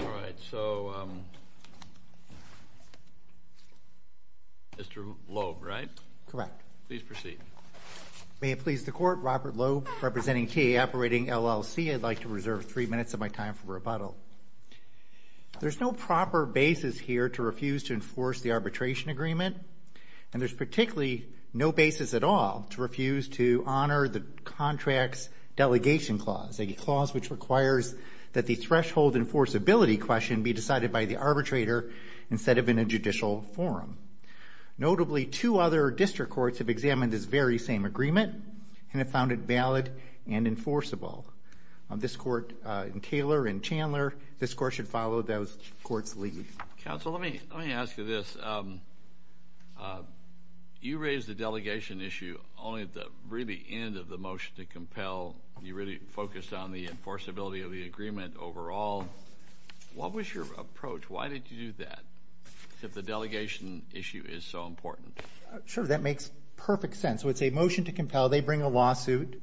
All right, so Mr. Loeb, right? Correct. Please proceed. May it please the Court, Robert Loeb, representing TA Operating, LLC. I'd like to reserve three minutes of my time for rebuttal. There's no proper basis here to refuse to enforce the arbitration agreement, and there's particularly no basis at all to refuse to honor the threshold enforceability question be decided by the arbitrator instead of in a judicial forum. Notably, two other district courts have examined this very same agreement and have found it valid and enforceable. This court in Taylor and Chandler, this court should follow those courts' lead. Counsel, let me let me ask you this. You raised the delegation issue only at the really end of the motion to agreement overall. What was your approach? Why did you do that, if the delegation issue is so important? Sure, that makes perfect sense. So it's a motion to compel. They bring a lawsuit.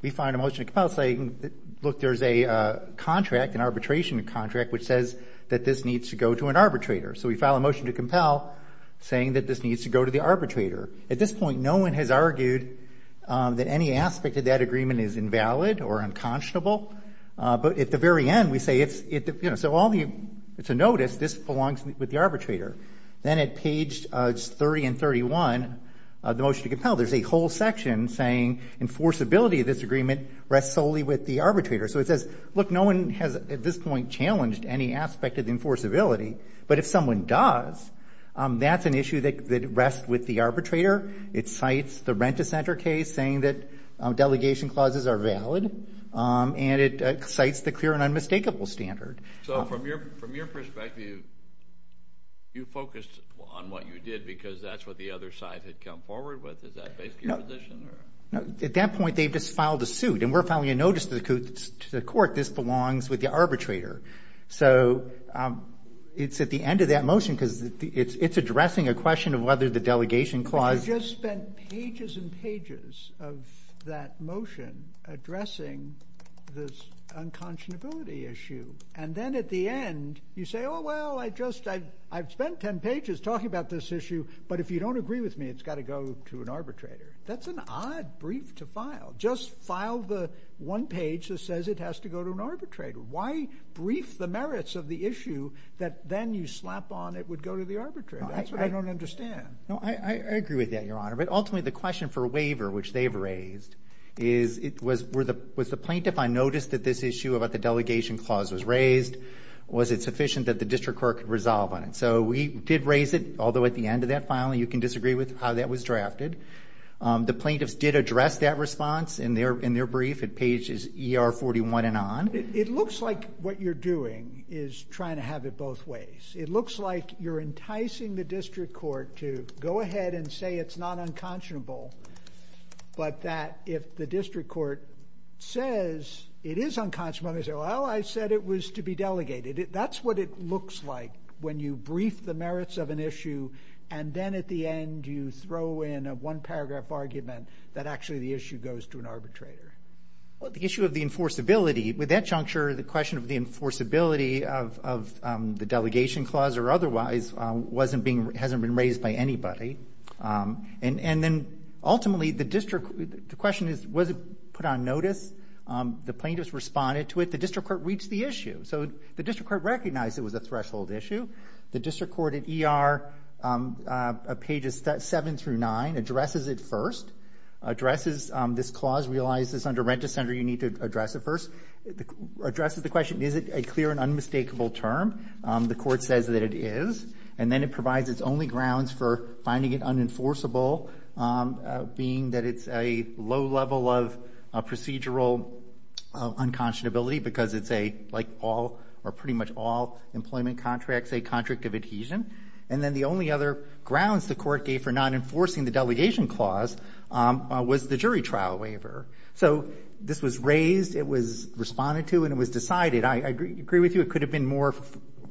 We find a motion to compel saying, look, there's a contract, an arbitration contract, which says that this needs to go to an arbitrator. So we file a motion to compel saying that this needs to go to the arbitrator. At this point, no one has argued that any aspect of that at the very end, we say it's, you know, so all the, it's a notice, this belongs with the arbitrator. Then at page 30 and 31 of the motion to compel, there's a whole section saying enforceability of this agreement rests solely with the arbitrator. So it says, look, no one has at this point challenged any aspect of the enforceability, but if someone does, that's an issue that rests with the arbitrator. It cites the rent-a-center case saying that delegation clauses are an unmistakable standard. So from your, from your perspective, you focused on what you did because that's what the other side had come forward with? Is that basically your position? No, at that point, they've just filed a suit and we're filing a notice to the court, this belongs with the arbitrator. So it's at the end of that motion because it's addressing a question of whether the delegation clause... But you just spent pages and pages of that motion addressing this unconscionability issue, and then at the end you say, oh well, I just, I've spent ten pages talking about this issue, but if you don't agree with me, it's got to go to an arbitrator. That's an odd brief to file. Just file the one page that says it has to go to an arbitrator. Why brief the merits of the issue that then you slap on it would go to the arbitrator? That's what I don't understand. No, I agree with that, Your Honor, but ultimately the question for me was, was the plaintiff on notice that this issue about the delegation clause was raised? Was it sufficient that the district court could resolve on it? So we did raise it, although at the end of that filing you can disagree with how that was drafted. The plaintiffs did address that response in their brief at pages ER 41 and on. It looks like what you're doing is trying to have it both ways. It looks like you're enticing the district court to go ahead and say it's not unconscionable, but that if the district court says it is unconscionable, they say, well, I said it was to be delegated. That's what it looks like when you brief the merits of an issue and then at the end you throw in a one paragraph argument that actually the issue goes to an arbitrator. Well, the issue of the enforceability, with that juncture, the question of the enforceability of the delegation clause or otherwise wasn't being, hasn't been raised by anybody. And then ultimately the district, the question is, was it put on notice? The plaintiffs responded to it. The district court reached the issue. So the district court recognized it was a threshold issue. The district court at ER pages 7 through 9 addresses it first. Addresses this clause, realizes under rent-a-center you need to address it first. Addresses the question, is it a clear and unmistakable term? The court says that it is and then it provides its only grounds for finding it unenforceable, being that it's a low level of procedural unconscionability because it's a, like all, or pretty much all employment contracts, a contract of adhesion. And then the only other grounds the court gave for not enforcing the delegation clause was the jury trial waiver. So this was raised, it was responded to, and it was decided. I agree with you, it could have been more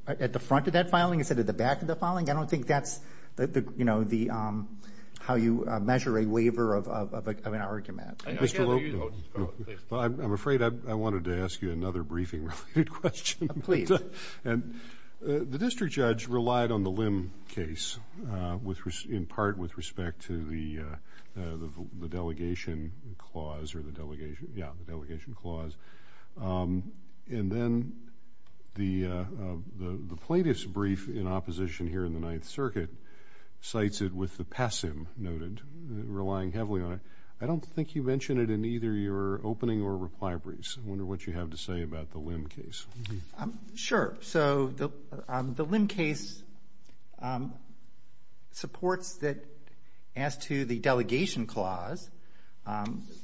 at the front of that filing instead of the back of the filing. I don't think that's the, you know, the, how you measure a waiver of an argument. I'm afraid I wanted to ask you another briefing question. Please. And the district judge relied on the limb case with, in part, with respect to the delegation clause or the delegation, yeah, the delegation clause. And then the latest brief in opposition here in the Ninth Circuit cites it with the pessim noted, relying heavily on it. I don't think you mentioned it in either your opening or reply briefs. I wonder what you have to say about the limb case. Sure. So the limb case supports that, as to the delegation clause,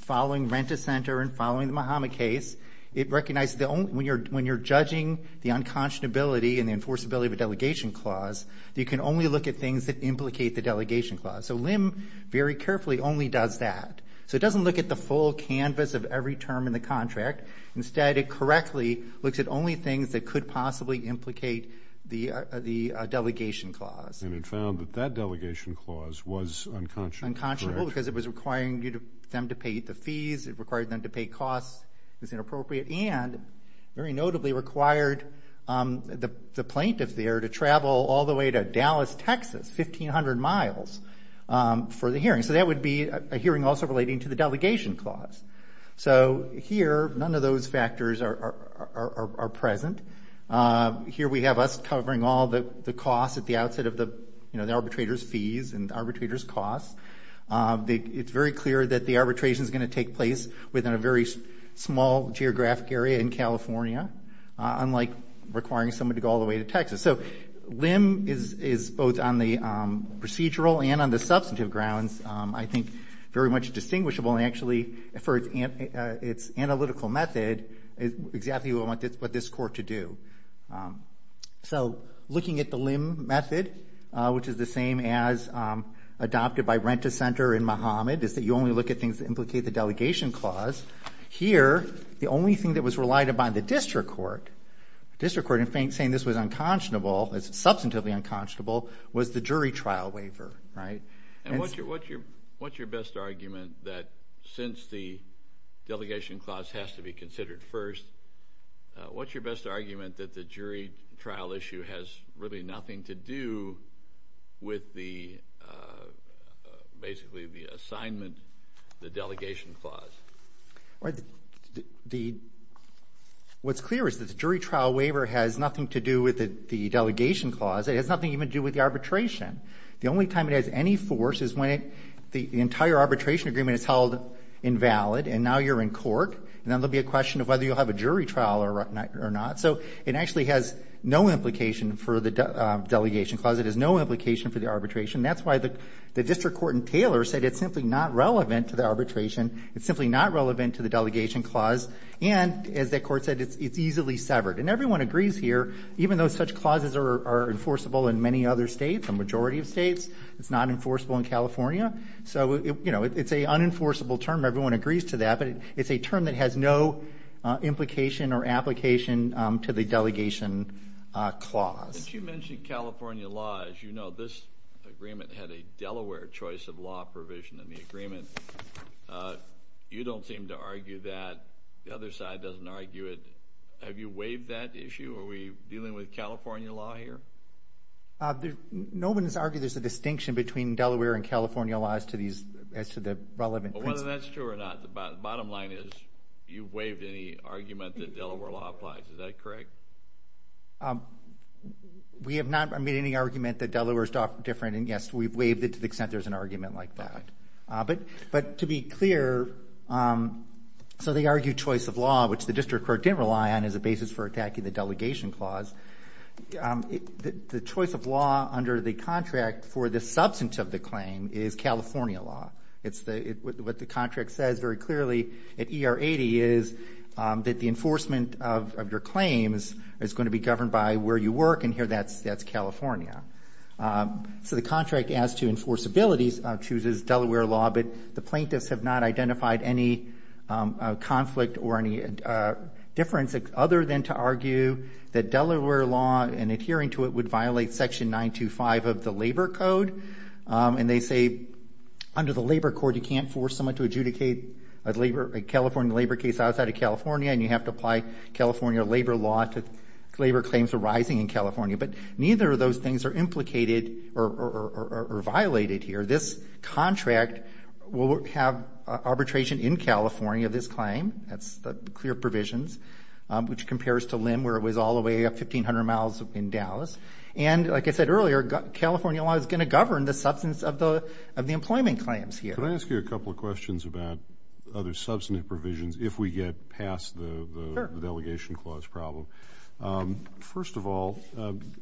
following rent-a-center and following the Mahama case, it recognized the only, when you're, when you're looking at the unconscionability and the enforceability of a delegation clause, you can only look at things that implicate the delegation clause. So limb very carefully only does that. So it doesn't look at the full canvas of every term in the contract. Instead, it correctly looks at only things that could possibly implicate the, the delegation clause. And it found that that delegation clause was unconscionable. Unconscionable because it was requiring you to, them to pay the fees, it required them to pay costs, it was inappropriate, and very notably required the plaintiff there to travel all the way to Dallas, Texas, 1,500 miles for the hearing. So that would be a hearing also relating to the delegation clause. So here, none of those factors are present. Here we have us covering all the costs at the outset of the, you know, the arbitrator's fees and arbitrator's costs. It's very clear that the arbitration is going to take place within a very small geographic area in California, unlike requiring someone to go all the way to Texas. So limb is, is both on the procedural and on the substantive grounds, I think, very much distinguishable. And actually, for its, its analytical method, is exactly what I want this, what this court to do. So looking at the limb method, which is the same as adopted by Rent-A-Center in Muhammad, is that you only look at things that implicate the delegation clause. Here, the only thing that was relied upon the district court, district court in saying this was unconscionable, it's substantively unconscionable, was the jury trial waiver, right? And what's your, what's your, what's your best argument that, since the delegation clause has to be considered first, what's your best argument that the jury trial issue has really nothing to do with the, basically, the assignment, the delegation clause? Right, the, what's clear is that the jury trial waiver has nothing to do with the delegation clause. It has nothing even to do with the arbitration. The only time it has any force is when it, the entire arbitration agreement is held invalid, and now you're in court, and then there'll be a question of whether you'll have a jury trial or not, or not. So it actually has no implication for the delegation clause. It has no implication, and that's why the, the district court in Taylor said it's simply not relevant to the arbitration. It's simply not relevant to the delegation clause, and as that court said, it's, it's easily severed. And everyone agrees here, even though such clauses are, are enforceable in many other states, the majority of states, it's not enforceable in California. So, you know, it's a unenforceable term. Everyone agrees to that, but it's a term that has no implication or application to the delegation clause. Since you mentioned California law, as you know, this agreement had a Delaware choice of law provision in the agreement. You don't seem to argue that. The other side doesn't argue it. Have you waived that issue? Are we dealing with California law here? No one has argued there's a distinction between Delaware and California laws to these, as to the relevant principle. Whether that's true or not, the bottom line is, you've waived any argument that Delaware law applies. Is that correct? We have not made any argument that Delaware's different, and yes, we've waived it to the extent there's an argument like that. But, but to be clear, so they argue choice of law, which the district court didn't rely on as a basis for attacking the delegation clause. The choice of law under the contract for the substance of the claim is California law. It's the, what the contract says very clearly at ER 80 is that the enforcement of your claims is going to be governed by where you work, and here that's, that's California. So the contract as to enforceability chooses Delaware law, but the plaintiffs have not identified any conflict or any difference, other than to argue that Delaware law, in adhering to it, would under the labor court, you can't force someone to adjudicate a labor, a California labor case outside of California, and you have to apply California labor law to labor claims arising in California. But neither of those things are implicated or violated here. This contract will have arbitration in California, this claim. That's the clear provisions, which compares to LIM, where it was all the way up 1,500 miles in Dallas. And like I said of the employment claims here. Can I ask you a couple of questions about other substantive provisions, if we get past the delegation clause problem. First of all,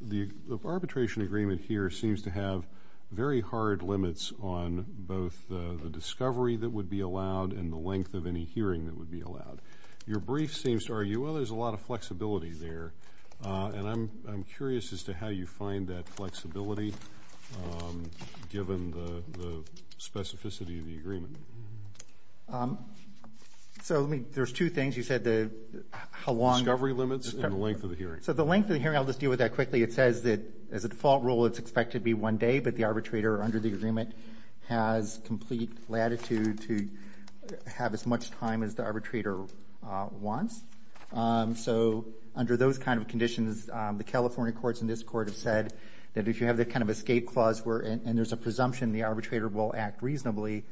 the arbitration agreement here seems to have very hard limits on both the discovery that would be allowed, and the length of any hearing that would be allowed. Your brief seems to argue, well there's a lot of flexibility there, and I'm curious as to how you find that flexibility, given the specificity of the agreement. So there's two things, you said the how long... Discovery limits and the length of the hearing. So the length of the hearing, I'll just deal with that quickly, it says that as a default rule it's expected to be one day, but the arbitrator under the agreement has complete latitude to have as much time as the arbitrator wants. So under those kind of conditions, the California courts in this court have said, that if you have that kind of escape clause, and there's a presumption the arbitrator will act reasonably,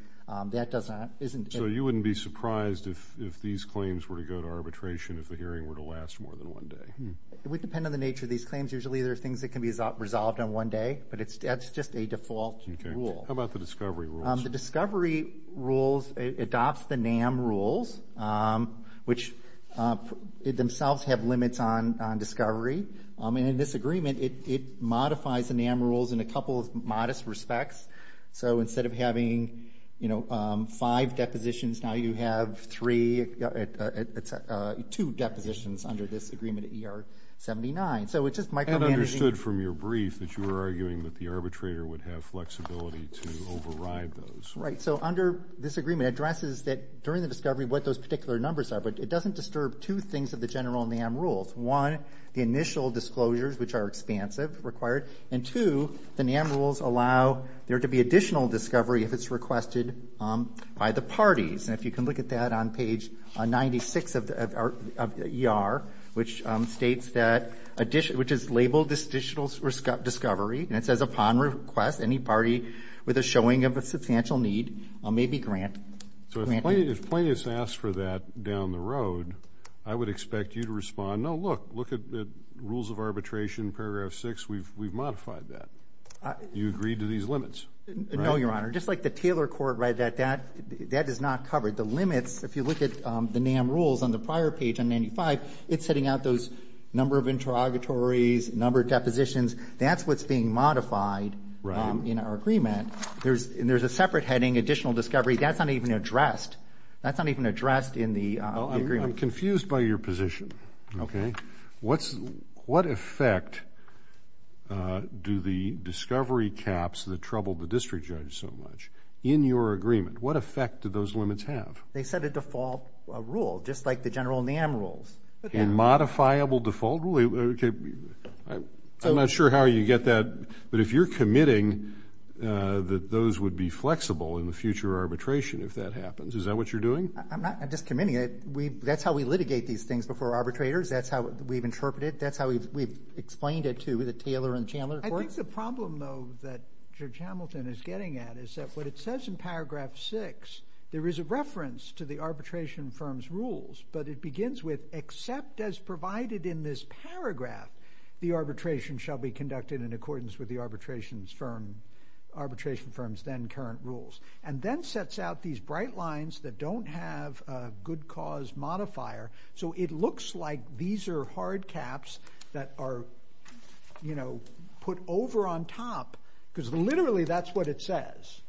that doesn't... So you wouldn't be surprised if these claims were to go to arbitration, if the hearing were to last more than one day. It would depend on the nature of these claims. Usually there are things that can be resolved on one day, but it's that's just a default rule. How about the discovery rules? The discovery rules adopts the NAM rules, which themselves have limits on discovery. And in this agreement, it modifies the NAM rules in a couple of modest respects. So instead of having five depositions, now you have three, it's two depositions under this agreement at ER 79. So it's just micromanaging... I understood from your brief that you were arguing that the arbitrator would have flexibility to override those. Right, so under this agreement, it addresses that during the discovery, what those particular numbers are. But it doesn't disturb two things of the general NAM rules. One, the initial disclosures, which are expansive, required. And two, the NAM rules allow there to be additional discovery if it's requested by the parties. And if you can look at that on page 96 of the ER, which states that additional... which is labeled this additional discovery, and it says upon request, any party with a showing of a substantial need may be granted. So if plaintiffs ask for that down the road, I would expect you to respond, no, look, look at the rules of arbitration, paragraph 6, we've modified that. You agreed to these limits. No, Your Honor, just like the Taylor Court read that, that is not covered. The limits, if you look at the NAM rules on the prior page on 95, it's setting out those number of interrogatories, number of depositions. That's what's being modified in our agreement. There's a separate heading, additional discovery. That's not even addressed. That's not even addressed in the agreement. I'm confused by your position. Okay. What effect do the discovery caps that troubled the district judge so much, in your agreement, what effect do those limits have? They set a default rule, just like the general NAM rules. A modifiable default rule? I'm not sure how you get that, but if you're committing that those would be flexible in the future arbitration, if that happens, is that what you're doing? I'm not, I'm just committing it. We, that's how we litigate these things before arbitrators. That's how we've interpreted. That's how we've explained it to the Taylor and Chandler Court. I think the problem, though, that Judge Hamilton is getting at is that what it says in paragraph 6, there is a with, except as provided in this paragraph, the arbitration shall be conducted in accordance with the arbitration firm's then current rules, and then sets out these bright lines that don't have a good cause modifier, so it looks like these are hard caps that are, you know, put over on top, because literally that's what it says.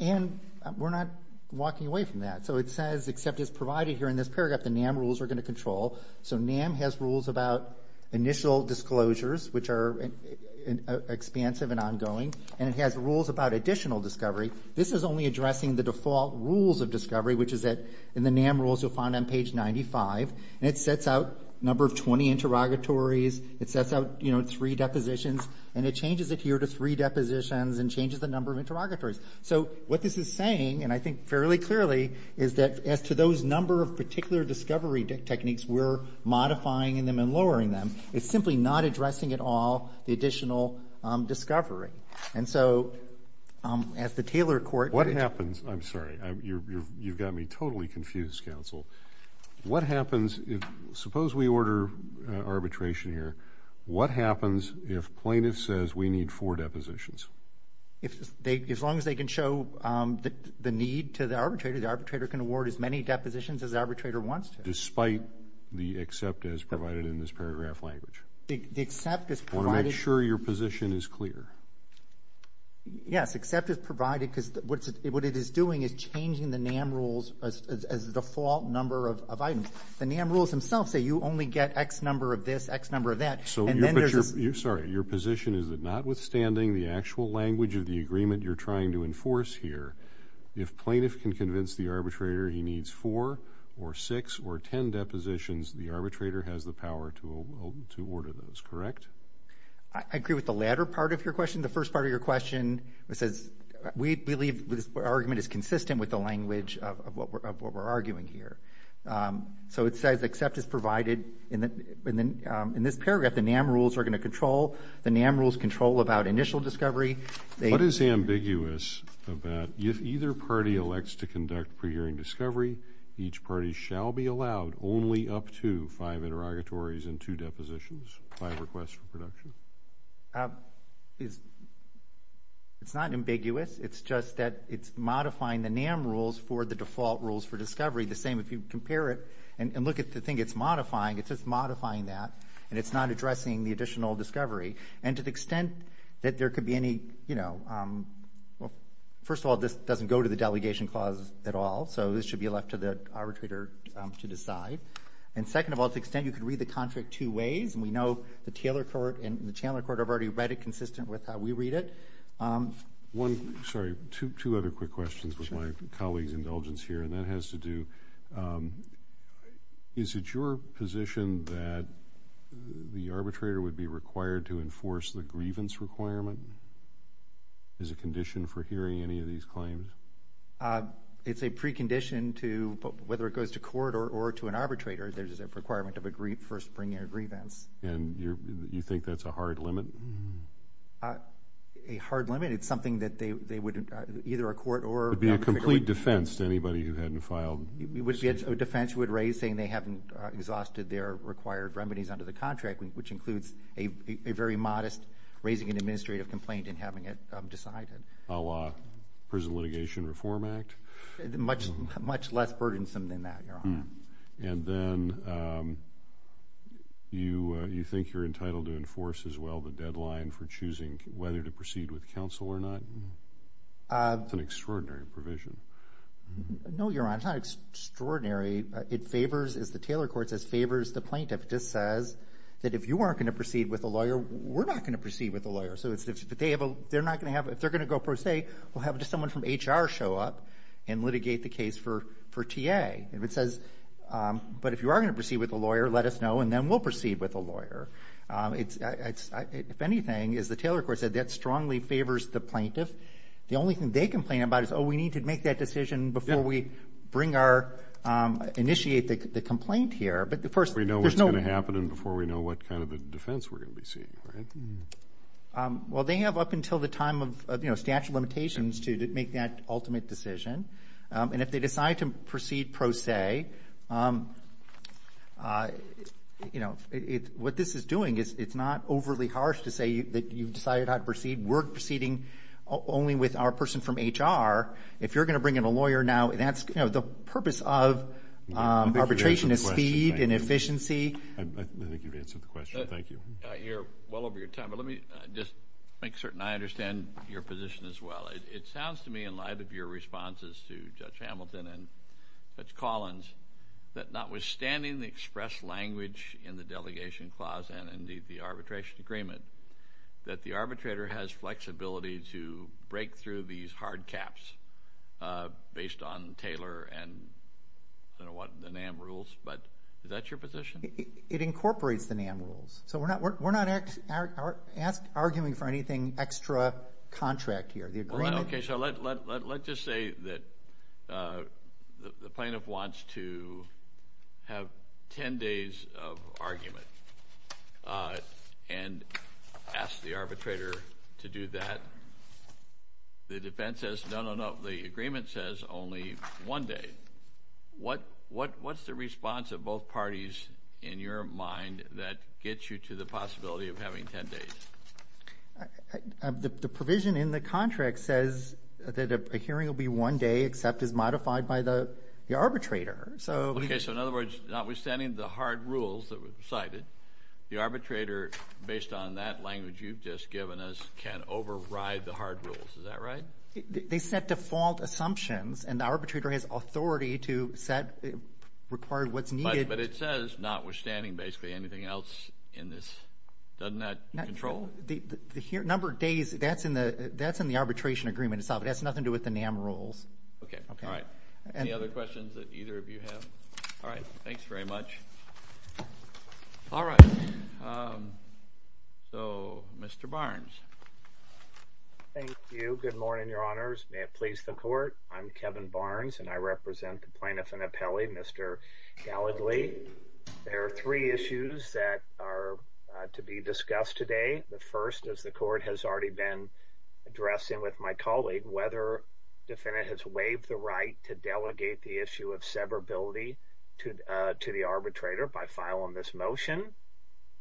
And we're not walking away from that. So it says, except as provided here in this paragraph, the NAM rules are going to control. So NAM has rules about initial disclosures, which are expansive and ongoing, and it has rules about additional discovery. This is only addressing the default rules of discovery, which is that in the NAM rules you'll find on page 95, and it sets out number of 20 interrogatories, it sets out, you know, three depositions, and it changes it here to three depositions and changes the number of interrogatories. So what this is saying, and I think fairly clearly, is that as to those number of particular discovery techniques we're modifying in them and lowering them, it's simply not addressing at all the additional discovery. And so, as the Taylor Court... What happens, I'm sorry, you've got me totally confused, counsel. What happens if, suppose we order arbitration here, what happens if plaintiff says we need four depositions? If they, as long as they can show the need to the arbitrator, the arbitrator can award as many depositions as the arbitrator wants to. Despite the except as provided in this paragraph language. The except is provided... You want to make sure your position is clear. Yes, except is provided because what it is doing is changing the NAM rules as the default number of items. The NAM rules themselves say you only get X number of this, X number of that, and then there's... You're sorry, your position is that notwithstanding the actual language of the agreement you're trying to enforce here, if plaintiff can convince the arbitrator he needs four or six or ten depositions, the arbitrator has the power to order those, correct? I agree with the latter part of your question. The first part of your question, it says we believe this argument is consistent with the language of what we're arguing here. So it says except is provided and then in this paragraph the NAM rules are going to control, the NAM rules control about initial discovery. What is ambiguous about if either party elects to conduct pre-hearing discovery, each party shall be allowed only up to five interrogatories and two depositions, five requests for production? It's not ambiguous, it's just that it's modifying the NAM rules for the default rules for discovery. The same if you compare it and look at the thing it's modifying, it's modifying that and it's not addressing the additional discovery. And to the extent that there could be any, you know, well first of all this doesn't go to the delegation clause at all, so this should be left to the arbitrator to decide. And second of all, to the extent you could read the contract two ways, and we know the Taylor Court and the Chandler Court have already read it consistent with how we read it. One, sorry, two other quick questions with my colleagues indulgence here, and that has to do, is it your position that the arbitrator would be required to enforce the grievance requirement as a condition for hearing any of these claims? It's a precondition to, whether it goes to court or to an arbitrator, there's a requirement of a brief for spring year grievance. And you think that's a hard limit? A hard limit? It's something that they would, either a attorney who hadn't filed... A defense would raise saying they haven't exhausted their required remedies under the contract, which includes a very modest raising an administrative complaint and having it decided. A la Prison Litigation Reform Act? Much, much less burdensome than that, Your Honor. And then you, you think you're entitled to enforce as well the deadline for choosing whether to proceed with the plaintiff? It's an extraordinary provision. No, Your Honor, it's not extraordinary. It favors, as the Taylor Court says, favors the plaintiff. It just says that if you aren't going to proceed with a lawyer, we're not going to proceed with a lawyer. So it's, if they have a, they're not going to have, if they're going to go pro se, we'll have someone from HR show up and litigate the case for, for TA. If it says, but if you are going to proceed with a lawyer, let us know and then we'll proceed with a lawyer. It's, if anything, as the Taylor Court said, that strongly favors the plaintiff. The only thing they complain about is, oh, we need to make that decision before we bring our, initiate the complaint here. But the first, there's no... Before we know what's going to happen and before we know what kind of a defense we're going to be seeing, right? Well, they have up until the time of, you know, statute of limitations to make that ultimate decision. And if they decide to proceed pro se, you know, it, what this is doing is, it's not overly harsh to say that you've decided how to proceed. We're proceeding only with our person from HR. If you're going to bring in a lawyer now, that's, you know, the purpose of arbitration is speed and efficiency. I think you've answered the question. Thank you. You're well over your time, but let me just make certain I understand your position as well. It sounds to me, in light of your responses to Judge Hamilton and Judge Collins, that notwithstanding the express language in the delegation clause and the arbitration agreement, that the arbitrator has flexibility to break through these hard caps based on Taylor and, I don't know what, the NAM rules, but is that your position? It incorporates the NAM rules. So we're not, we're not arguing for anything extra contract here. Okay, so let's just say that the plaintiff wants to have 10 days of argument and ask the arbitrator to do that. The defense says, no, no, no, the agreement says only one day. What's the response of both parties in your mind that gets you to the possibility of having 10 days? The provision in the contract says that a hearing will be one day except as modified by the arbitrator. So, okay, so in other words, notwithstanding the hard rules that were cited, the arbitrator, based on that language you've just given us, can override the hard rules. Is that right? They set default assumptions and the arbitrator has authority to set, require what's needed. But it says notwithstanding basically anything else in this, doesn't that control? The number of days, that's in the arbitration agreement itself. It has nothing to do with the NAM rules. Okay, all right. Any other questions that either of you have? All right, thanks very much. All right, so Mr. Barnes. Thank you. Good morning, your honors. May it please the court, I'm Kevin Barnes and I represent the plaintiff and appellee, Mr. Gallagly. There are three issues that are to be discussed today. The first is the court has already been addressing with my colleague, whether defendant has waived the right to delegate the issue of severability to the arbitrator by filing this motion.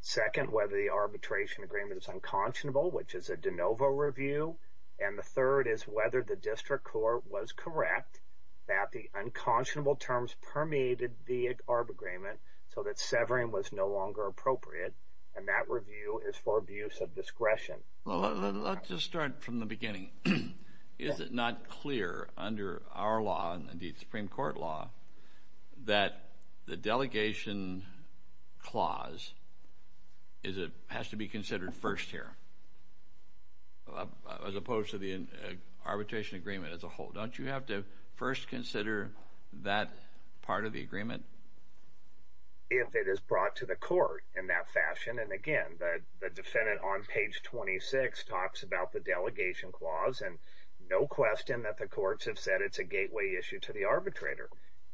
Second, whether the arbitration agreement is unconscionable, which is a de novo review. And the third is whether the district court was correct that the unconscionable terms permeated the ARB agreement, so that severing was no longer appropriate and that review is for abuse of discretion. Well, let's just start from the beginning. Is it not clear under our law and the Supreme Court law, that the delegation clause has to be considered first here, as opposed to the arbitration agreement as a whole? Don't you have to first consider that part of the agreement? If it is brought to the court in that fashion, and again, the defendant on page 26 talks about the delegation clause, and no question that the courts have said it's a gateway issue to the arbitrator.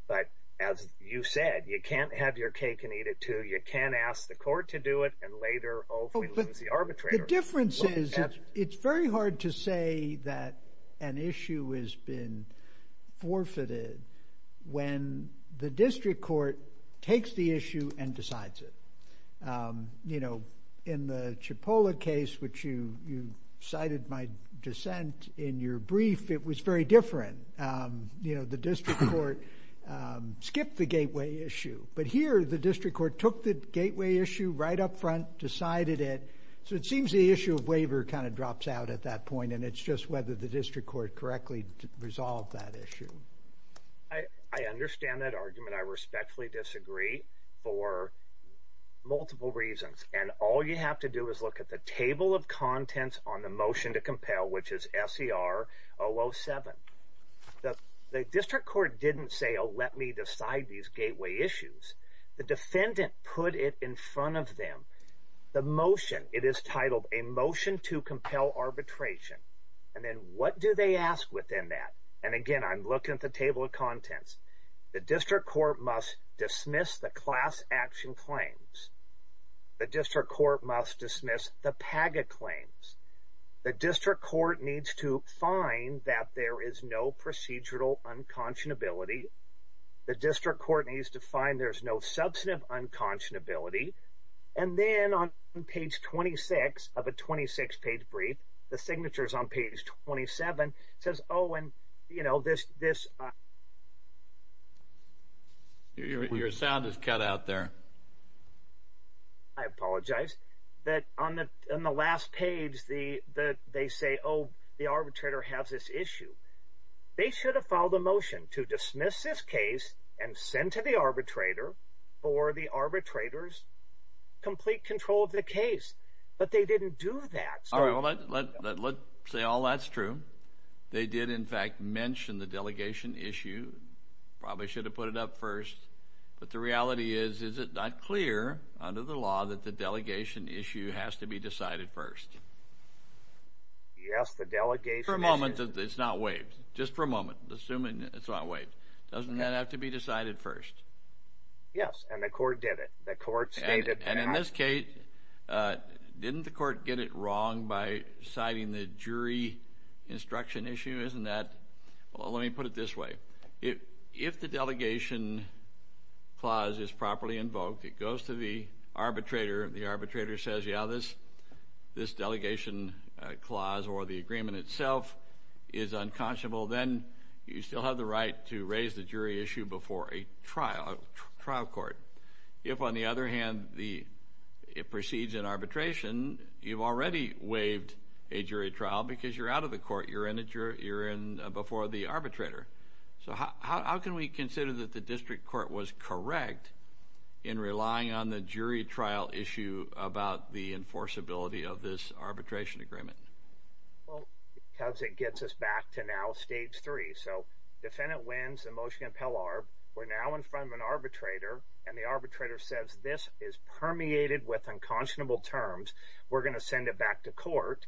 But as you said, you can't have your cake and eat it too. You can't ask the court to do it and later, oh, we lose the arbitrator. The difference is, it's very hard to say that an issue has been forfeited when the district court takes the issue and decides it. You know, in the Cipolla case, which you cited my dissent in your brief, it was very different. You know, the district court skipped the gateway issue, but here the district court took the gateway issue right up front, decided it. So it seems the issue of waiver kind of drops out at that point, and it's just whether the district court correctly resolved that issue. I understand that argument. I respectfully disagree for multiple reasons. And all you have to do is look at the table of contents on the motion to compel, which is S.E.R. 007. The district court didn't say, oh, let me decide these gateway issues. The defendant put it in front of them. The motion, it is titled a motion to compel arbitration. And then what do they ask within that? And again, I'm looking at the table of contents. The district court must dismiss the class action claims. The district court must dismiss the PAGA claims. The district court needs to find that there is no procedural unconscionability. The district court needs to find there's no substantive unconscionability. And then on page 26 of a 26-page brief, the signatures on page 27 says, oh, and, you know, this. Your sound is cut out there. I apologize that on the last page, the that they say, oh, the arbitrator has this issue. They should have filed a motion to dismiss this case and send to the arbitrator or the arbitrators complete control of the case. But they didn't do that. Let's say all that's true. They did, in fact, mention the delegation issue. Probably should have put it up first. But the reality is, is it not clear under the law that the delegation issue has to be decided first? Yes, the delegation. For a moment, it's not waived. Just for a moment, assuming it's not waived. Doesn't that have to be decided first? Yes, and the court did it. The court stated. And in this case, didn't the court get it wrong by citing the jury instruction issue? Isn't that? Well, let me put it this way. If if the delegation clause is properly invoked, it goes to the arbitrator. The arbitrator says, yeah, this this delegation clause or the agreement itself is unconscionable. Then you still have the right to raise the jury issue before a trial court. If, on the other hand, it proceeds in arbitration, you've already waived a jury trial because you're out of the court. You're in before the arbitrator. So how can we consider that the district court was correct in relying on the jury trial issue about the enforceability of this arbitration agreement? Well, because it gets us back to now stage three. So defendant wins the motion in Pell-Arb. We're now in front of an arbitrator, and the arbitrator says this is permeated with unconscionable terms. We're going to send it back to court.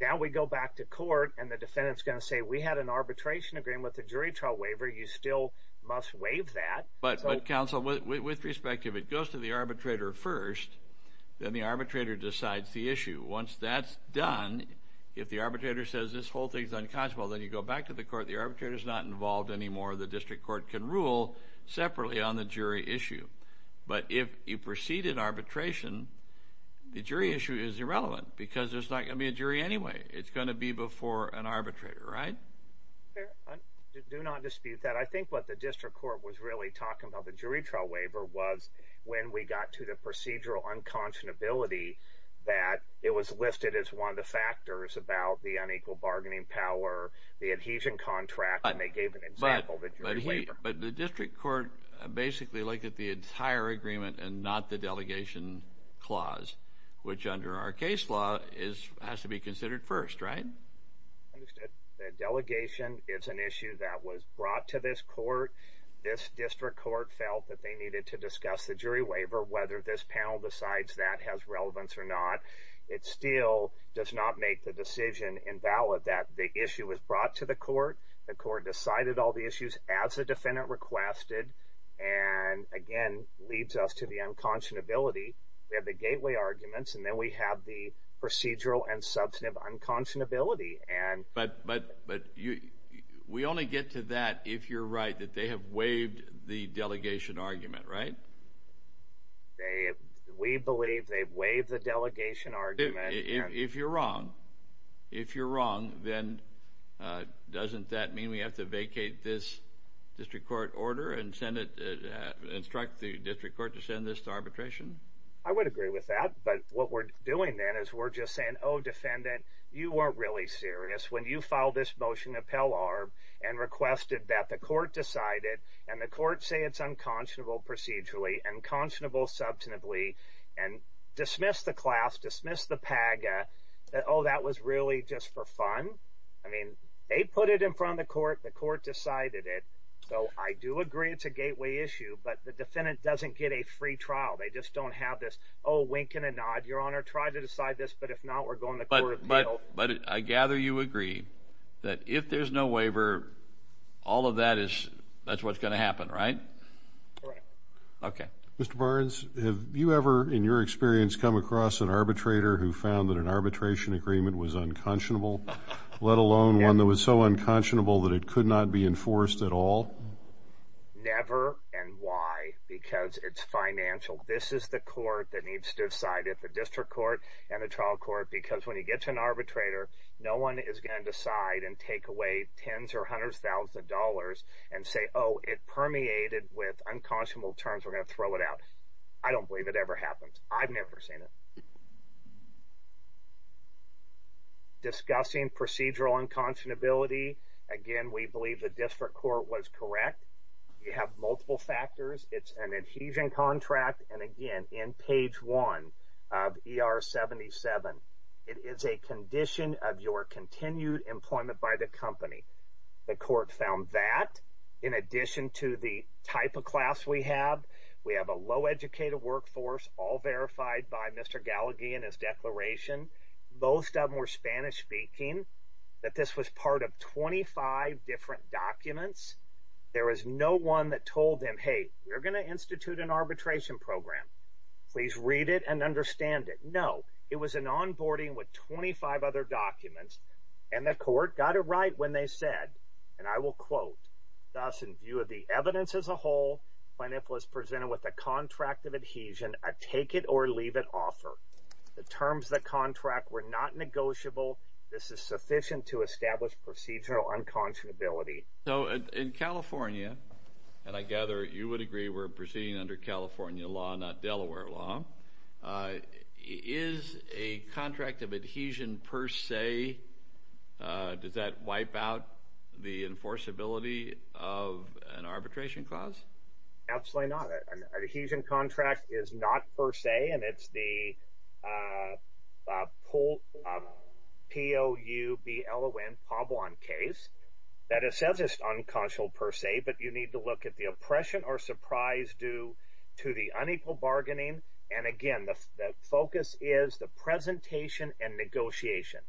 Now we go back to court, and the defendant's going to say we had an arbitration agreement with the jury trial waiver. You still must waive that. But counsel, with respect, if it goes to the arbitrator first, then the arbitrator decides the issue. Once that's done, if the arbitrator says this whole thing is unconscionable, then you go back to the court. The arbitrator is not involved anymore. The district court can rule separately on the jury issue. But if you proceed in arbitration, the jury issue is irrelevant because there's not going to be a jury anyway. It's going to be before an arbitrator, right? I do not dispute that. I think what the district court was really talking about the jury trial waiver was when we got to the procedural unconscionability that it was listed as one of the factors about the unequal bargaining power, the adhesion contract, and they gave an example. But the district court basically looked at the entire agreement and not the delegation clause, which under our case law has to be considered first, right? The delegation is an issue that was brought to this court. This district court felt that they needed to discuss the jury waiver, whether this panel decides that has relevance or not. It still does not make the decision invalid that the issue was brought to the court. The court decided all the issues as the defendant requested, and again, leads us to the unconscionability. We have the gateway arguments, and then we have the procedural and substantive unconscionability. But we only get to that if you're right, that they have waived the delegation argument, right? They, we believe they've waived the delegation argument. If you're wrong, if you're wrong, then doesn't that mean we have to vacate this district court order and send it, instruct the district court to send this to arbitration? I would agree with that, but what we're doing then is we're just saying, oh defendant, you are really serious when you filed this motion to Pell-Arb and requested that the court decide it, and the court say it's unconscionable procedurally, unconscionable substantively, and dismiss the class, dismiss the PAGA, that, oh, that was really just for fun. I mean, they put it in front of the court, the court decided it, so I do agree it's a gateway issue, but the defendant doesn't get a free trial. They just don't have this, oh, wink and a nod, your honor, try to decide this, but if not, we're going to court appeal. But I gather you agree that if there's no waiver, all of that is, that's what's going to happen, right? Correct. Okay. Mr. Barnes, have you ever, in your experience, come across an arbitrator who found that an arbitration agreement was unconscionable, let alone one that was so unconscionable that it could not be enforced at all? Never, and why? Because it's financial. This is the court that needs to decide it, the district court and the trial court, because when you get to an arbitrator, no one is going to decide and take away tens or hundreds of thousands of dollars and say, oh, it permeated with unconscionable terms. We're going to throw it out. I don't believe it ever happens. I've never seen it. Discussing procedural unconscionability, again, we believe the district court was correct. You have multiple factors. It's an adhesion contract, and again, in page one of ER 77, it is a condition of your continued employment by the company. The court found that, in addition to the type of class we have, we have a low-educated workforce, all verified by Mr. Gallagher and his declaration. Most of them were Spanish-speaking, that this was part of 25 different documents. There was no one that told them, hey, we're going to institute an arbitration program. Please read it and understand it. No. It was an onboarding with 25 other and I will quote, thus, in view of the evidence as a whole, Pleniful is presented with a contract of adhesion, a take-it-or-leave-it offer. The terms of the contract were not negotiable. This is sufficient to establish procedural unconscionability. So in California, and I gather you would agree we're proceeding under California law, not Delaware law, is a contract of adhesion per se, does that wipe out the enforceability of an arbitration clause? Absolutely not. An adhesion contract is not per se, and it's the P-O-U-B-L-O-N, Pablon case, that assesses unconscionable per se, but you need to look at the oppression or surprise due to the unequal bargaining, and again, the focus is the presentation and negotiation.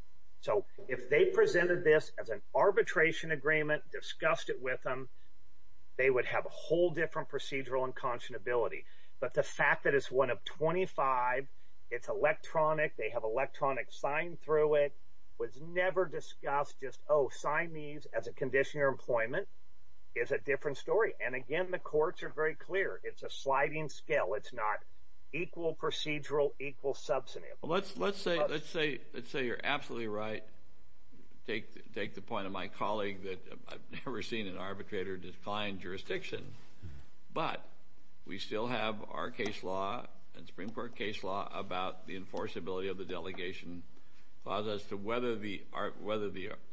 So if they presented this as an arbitration agreement, discussed it with them, they would have a whole different procedural unconscionability. But the fact that it's one of 25, it's electronic, they have electronic signed through it, was never discussed just, oh, sign as a condition of employment, is a different story. And again, the courts are very clear, it's a sliding scale, it's not equal procedural, equal substantive. Let's say you're absolutely right, take the point of my colleague that I've never seen an arbitrator decline jurisdiction, but we still have our case law and Supreme Court case law about the enforceability of the delegation as to whether the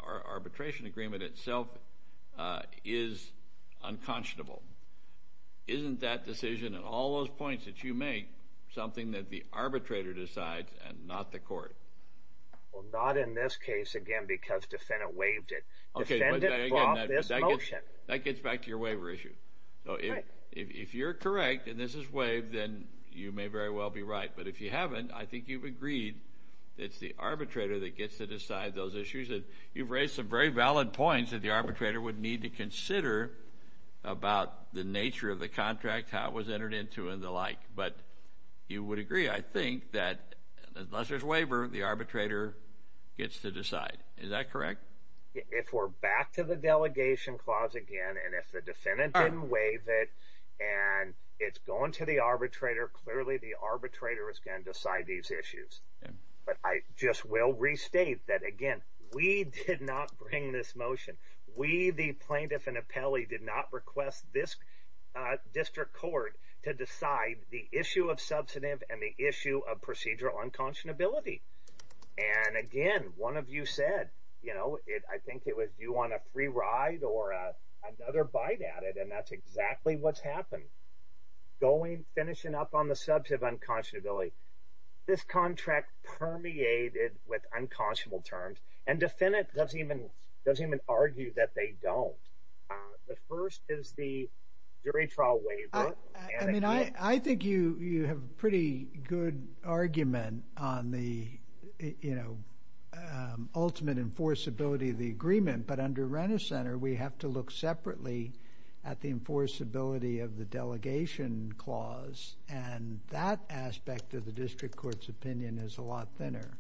arbitration agreement itself is unconscionable. Isn't that decision, and all those points that you make, something that the arbitrator decides and not the court? Well, not in this case, again, because defendant waived it. Defendant brought this motion. That gets back to your waiver issue. So if you're correct, and this is waived, then you may very well be right. But if you haven't, I think you've agreed it's the arbitrator that gets to decide those issues. And you've raised some very valid points that the arbitrator would need to consider about the nature of the contract, how it was entered into and the like. But you would agree, I think, that unless there's waiver, the arbitrator gets to decide. Is that correct? If we're back to the delegation clause again, and if the defendant didn't waive it, and it's going to the arbitrator, clearly the arbitrator is going to decide these issues. But I just will restate that, again, we did not bring this motion. We, the plaintiff and appellee, did not request this district court to decide the issue of substantive and the issue of procedural unconscionability. And again, one of you said, you know, I think it was you on a free ride or another bite at it. And that's exactly what's happened. Going, finishing up on the subject of unconscionability. This contract permeated with unconscionable terms. And defendant doesn't even argue that they don't. The first is the jury trial waiver. I mean, I think you have a pretty good argument on the, you know, ultimate enforceability of the agreement. But under Renner Center, we have to look separately at the enforceability of the delegation clause. And that aspect of the district court's opinion is a lot thinner.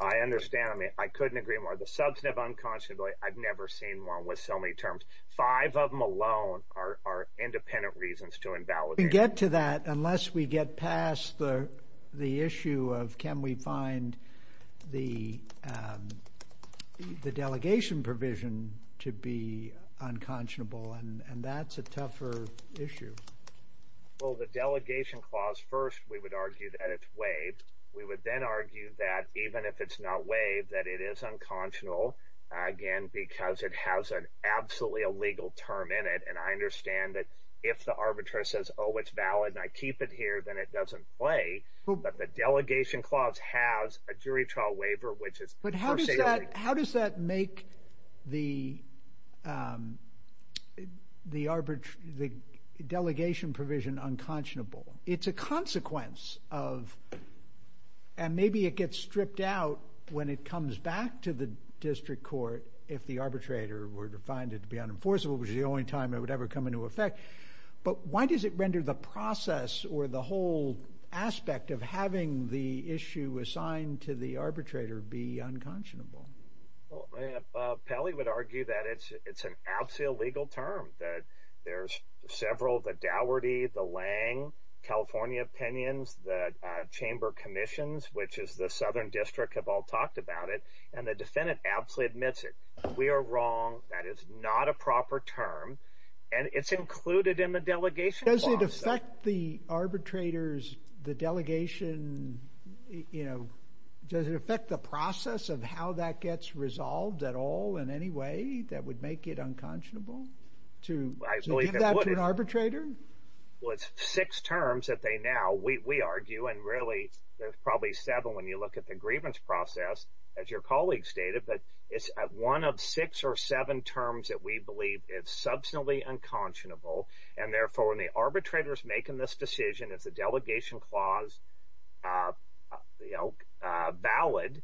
I understand. I mean, I couldn't agree more. The substantive unconscionability, I've never seen one with so many terms. Five of them alone are independent reasons to invalidate. Unless we get past the issue of can we find the delegation provision to be unconscionable. And that's a tougher issue. Well, the delegation clause, first, we would argue that it's waived. We would then argue that even if it's not waived, that it is unconscionable, again, because it has an absolutely illegal term in it. And I understand that if the arbitrator says, oh, it's valid and I keep it here, then it doesn't play. But the delegation clause has a jury trial waiver, which is. But how does that make the delegation provision unconscionable? It's a consequence of, and maybe it gets stripped out when it comes back to the district court, if the arbitrator were to find it to be unenforceable, which is the only time it ever would come into effect. But why does it render the process or the whole aspect of having the issue assigned to the arbitrator be unconscionable? Well, Pally would argue that it's an absolutely illegal term, that there's several, the Daugherty, the Lang, California Opinions, the Chamber of Commissions, which is the southern district have all talked about it. And the defendant absolutely admits it. We are wrong. That is not a proper term. And it's included in the delegation. Does it affect the arbitrators, the delegation, you know, does it affect the process of how that gets resolved at all in any way that would make it unconscionable to give that to an arbitrator? Well, it's six terms that they now, we argue, and really, there's probably seven when you look at the grievance process, as your colleague stated, but it's one of six or seven terms that we believe is substantially unconscionable. And therefore, when the arbitrator is making this decision, if the delegation clause, you know, valid,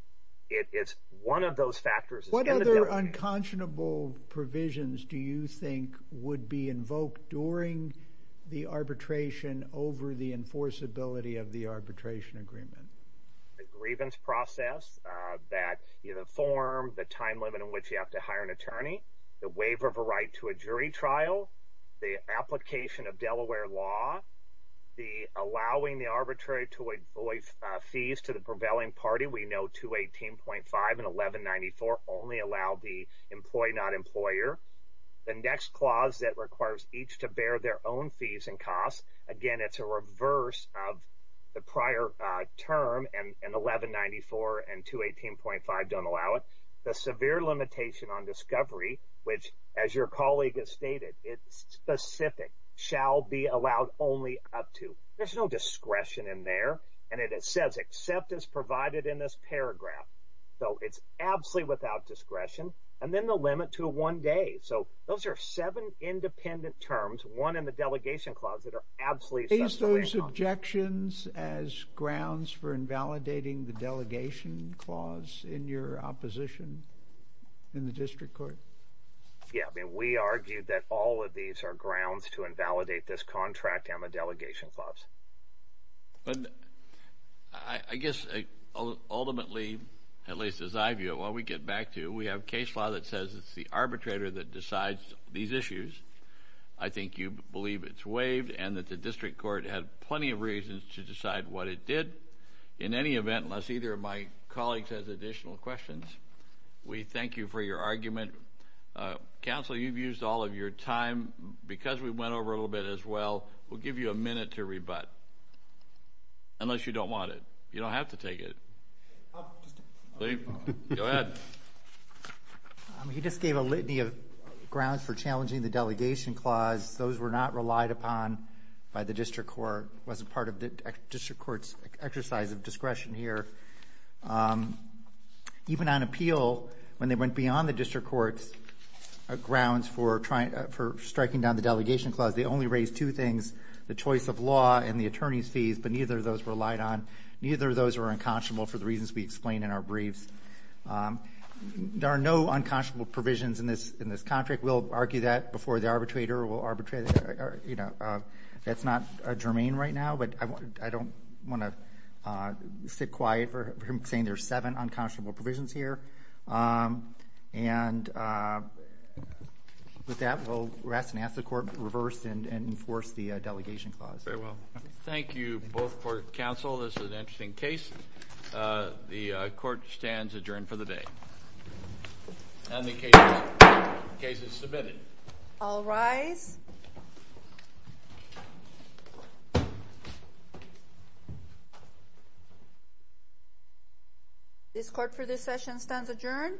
it's one of those factors. What other unconscionable provisions do you think would be invoked during the arbitration over the enforceability of the arbitration agreement? The grievance process that, you know, form the time limit in which you have to hire an attorney, the waiver of a right to a jury trial, the application of Delaware law, the allowing the arbitrary to avoid fees to the prevailing party, we know 218.5 and 1194 only allow the employee, not employer. The next clause that requires each to bear their own fees and costs, again, it's a reverse of the prior term, and 1194 and 218.5 don't allow it. The severe limitation on discovery, which, as your colleague has stated, it's specific, shall be allowed only up to. There's no discretion in there, and it says, except as provided in this paragraph. So, it's absolutely without discretion, and then the limit to one day. So, those are seven independent terms, one in the delegation clause that are absolutely. Is those objections as grounds for invalidating the delegation clause in your opposition in the district court? Yeah, I mean, we argued that all of these are grounds to invalidate this contract on the delegation clause. I guess, ultimately, at least as I view it, what we get back to, we have case law that says it's the arbitrator that decides these issues. I think you believe it's waived, and that the district court had plenty of reasons to decide what it did. In any event, unless either of my colleagues has additional questions, we thank you for your argument. Counsel, you've used all of your time. Because we went over a we'll give you a minute to rebut, unless you don't want it. You don't have to take it. Go ahead. He just gave a litany of grounds for challenging the delegation clause. Those were not relied upon by the district court. It wasn't part of the district court's exercise of discretion here. Even on appeal, when they went beyond the district court's grounds for striking down the the choice of law and the attorney's fees, but neither of those were relied on. Neither of those were unconscionable for the reasons we explain in our briefs. There are no unconscionable provisions in this contract. We'll argue that before the arbitrator. That's not germane right now, but I don't want to sit quiet saying there's seven unconscionable provisions here. And with that, we'll rest and ask the court to reverse and enforce the delegation clause. Thank you both for counsel. This is an interesting case. The court stands adjourned for the day. And the case is submitted. I'll rise. This court for this session stands adjourned.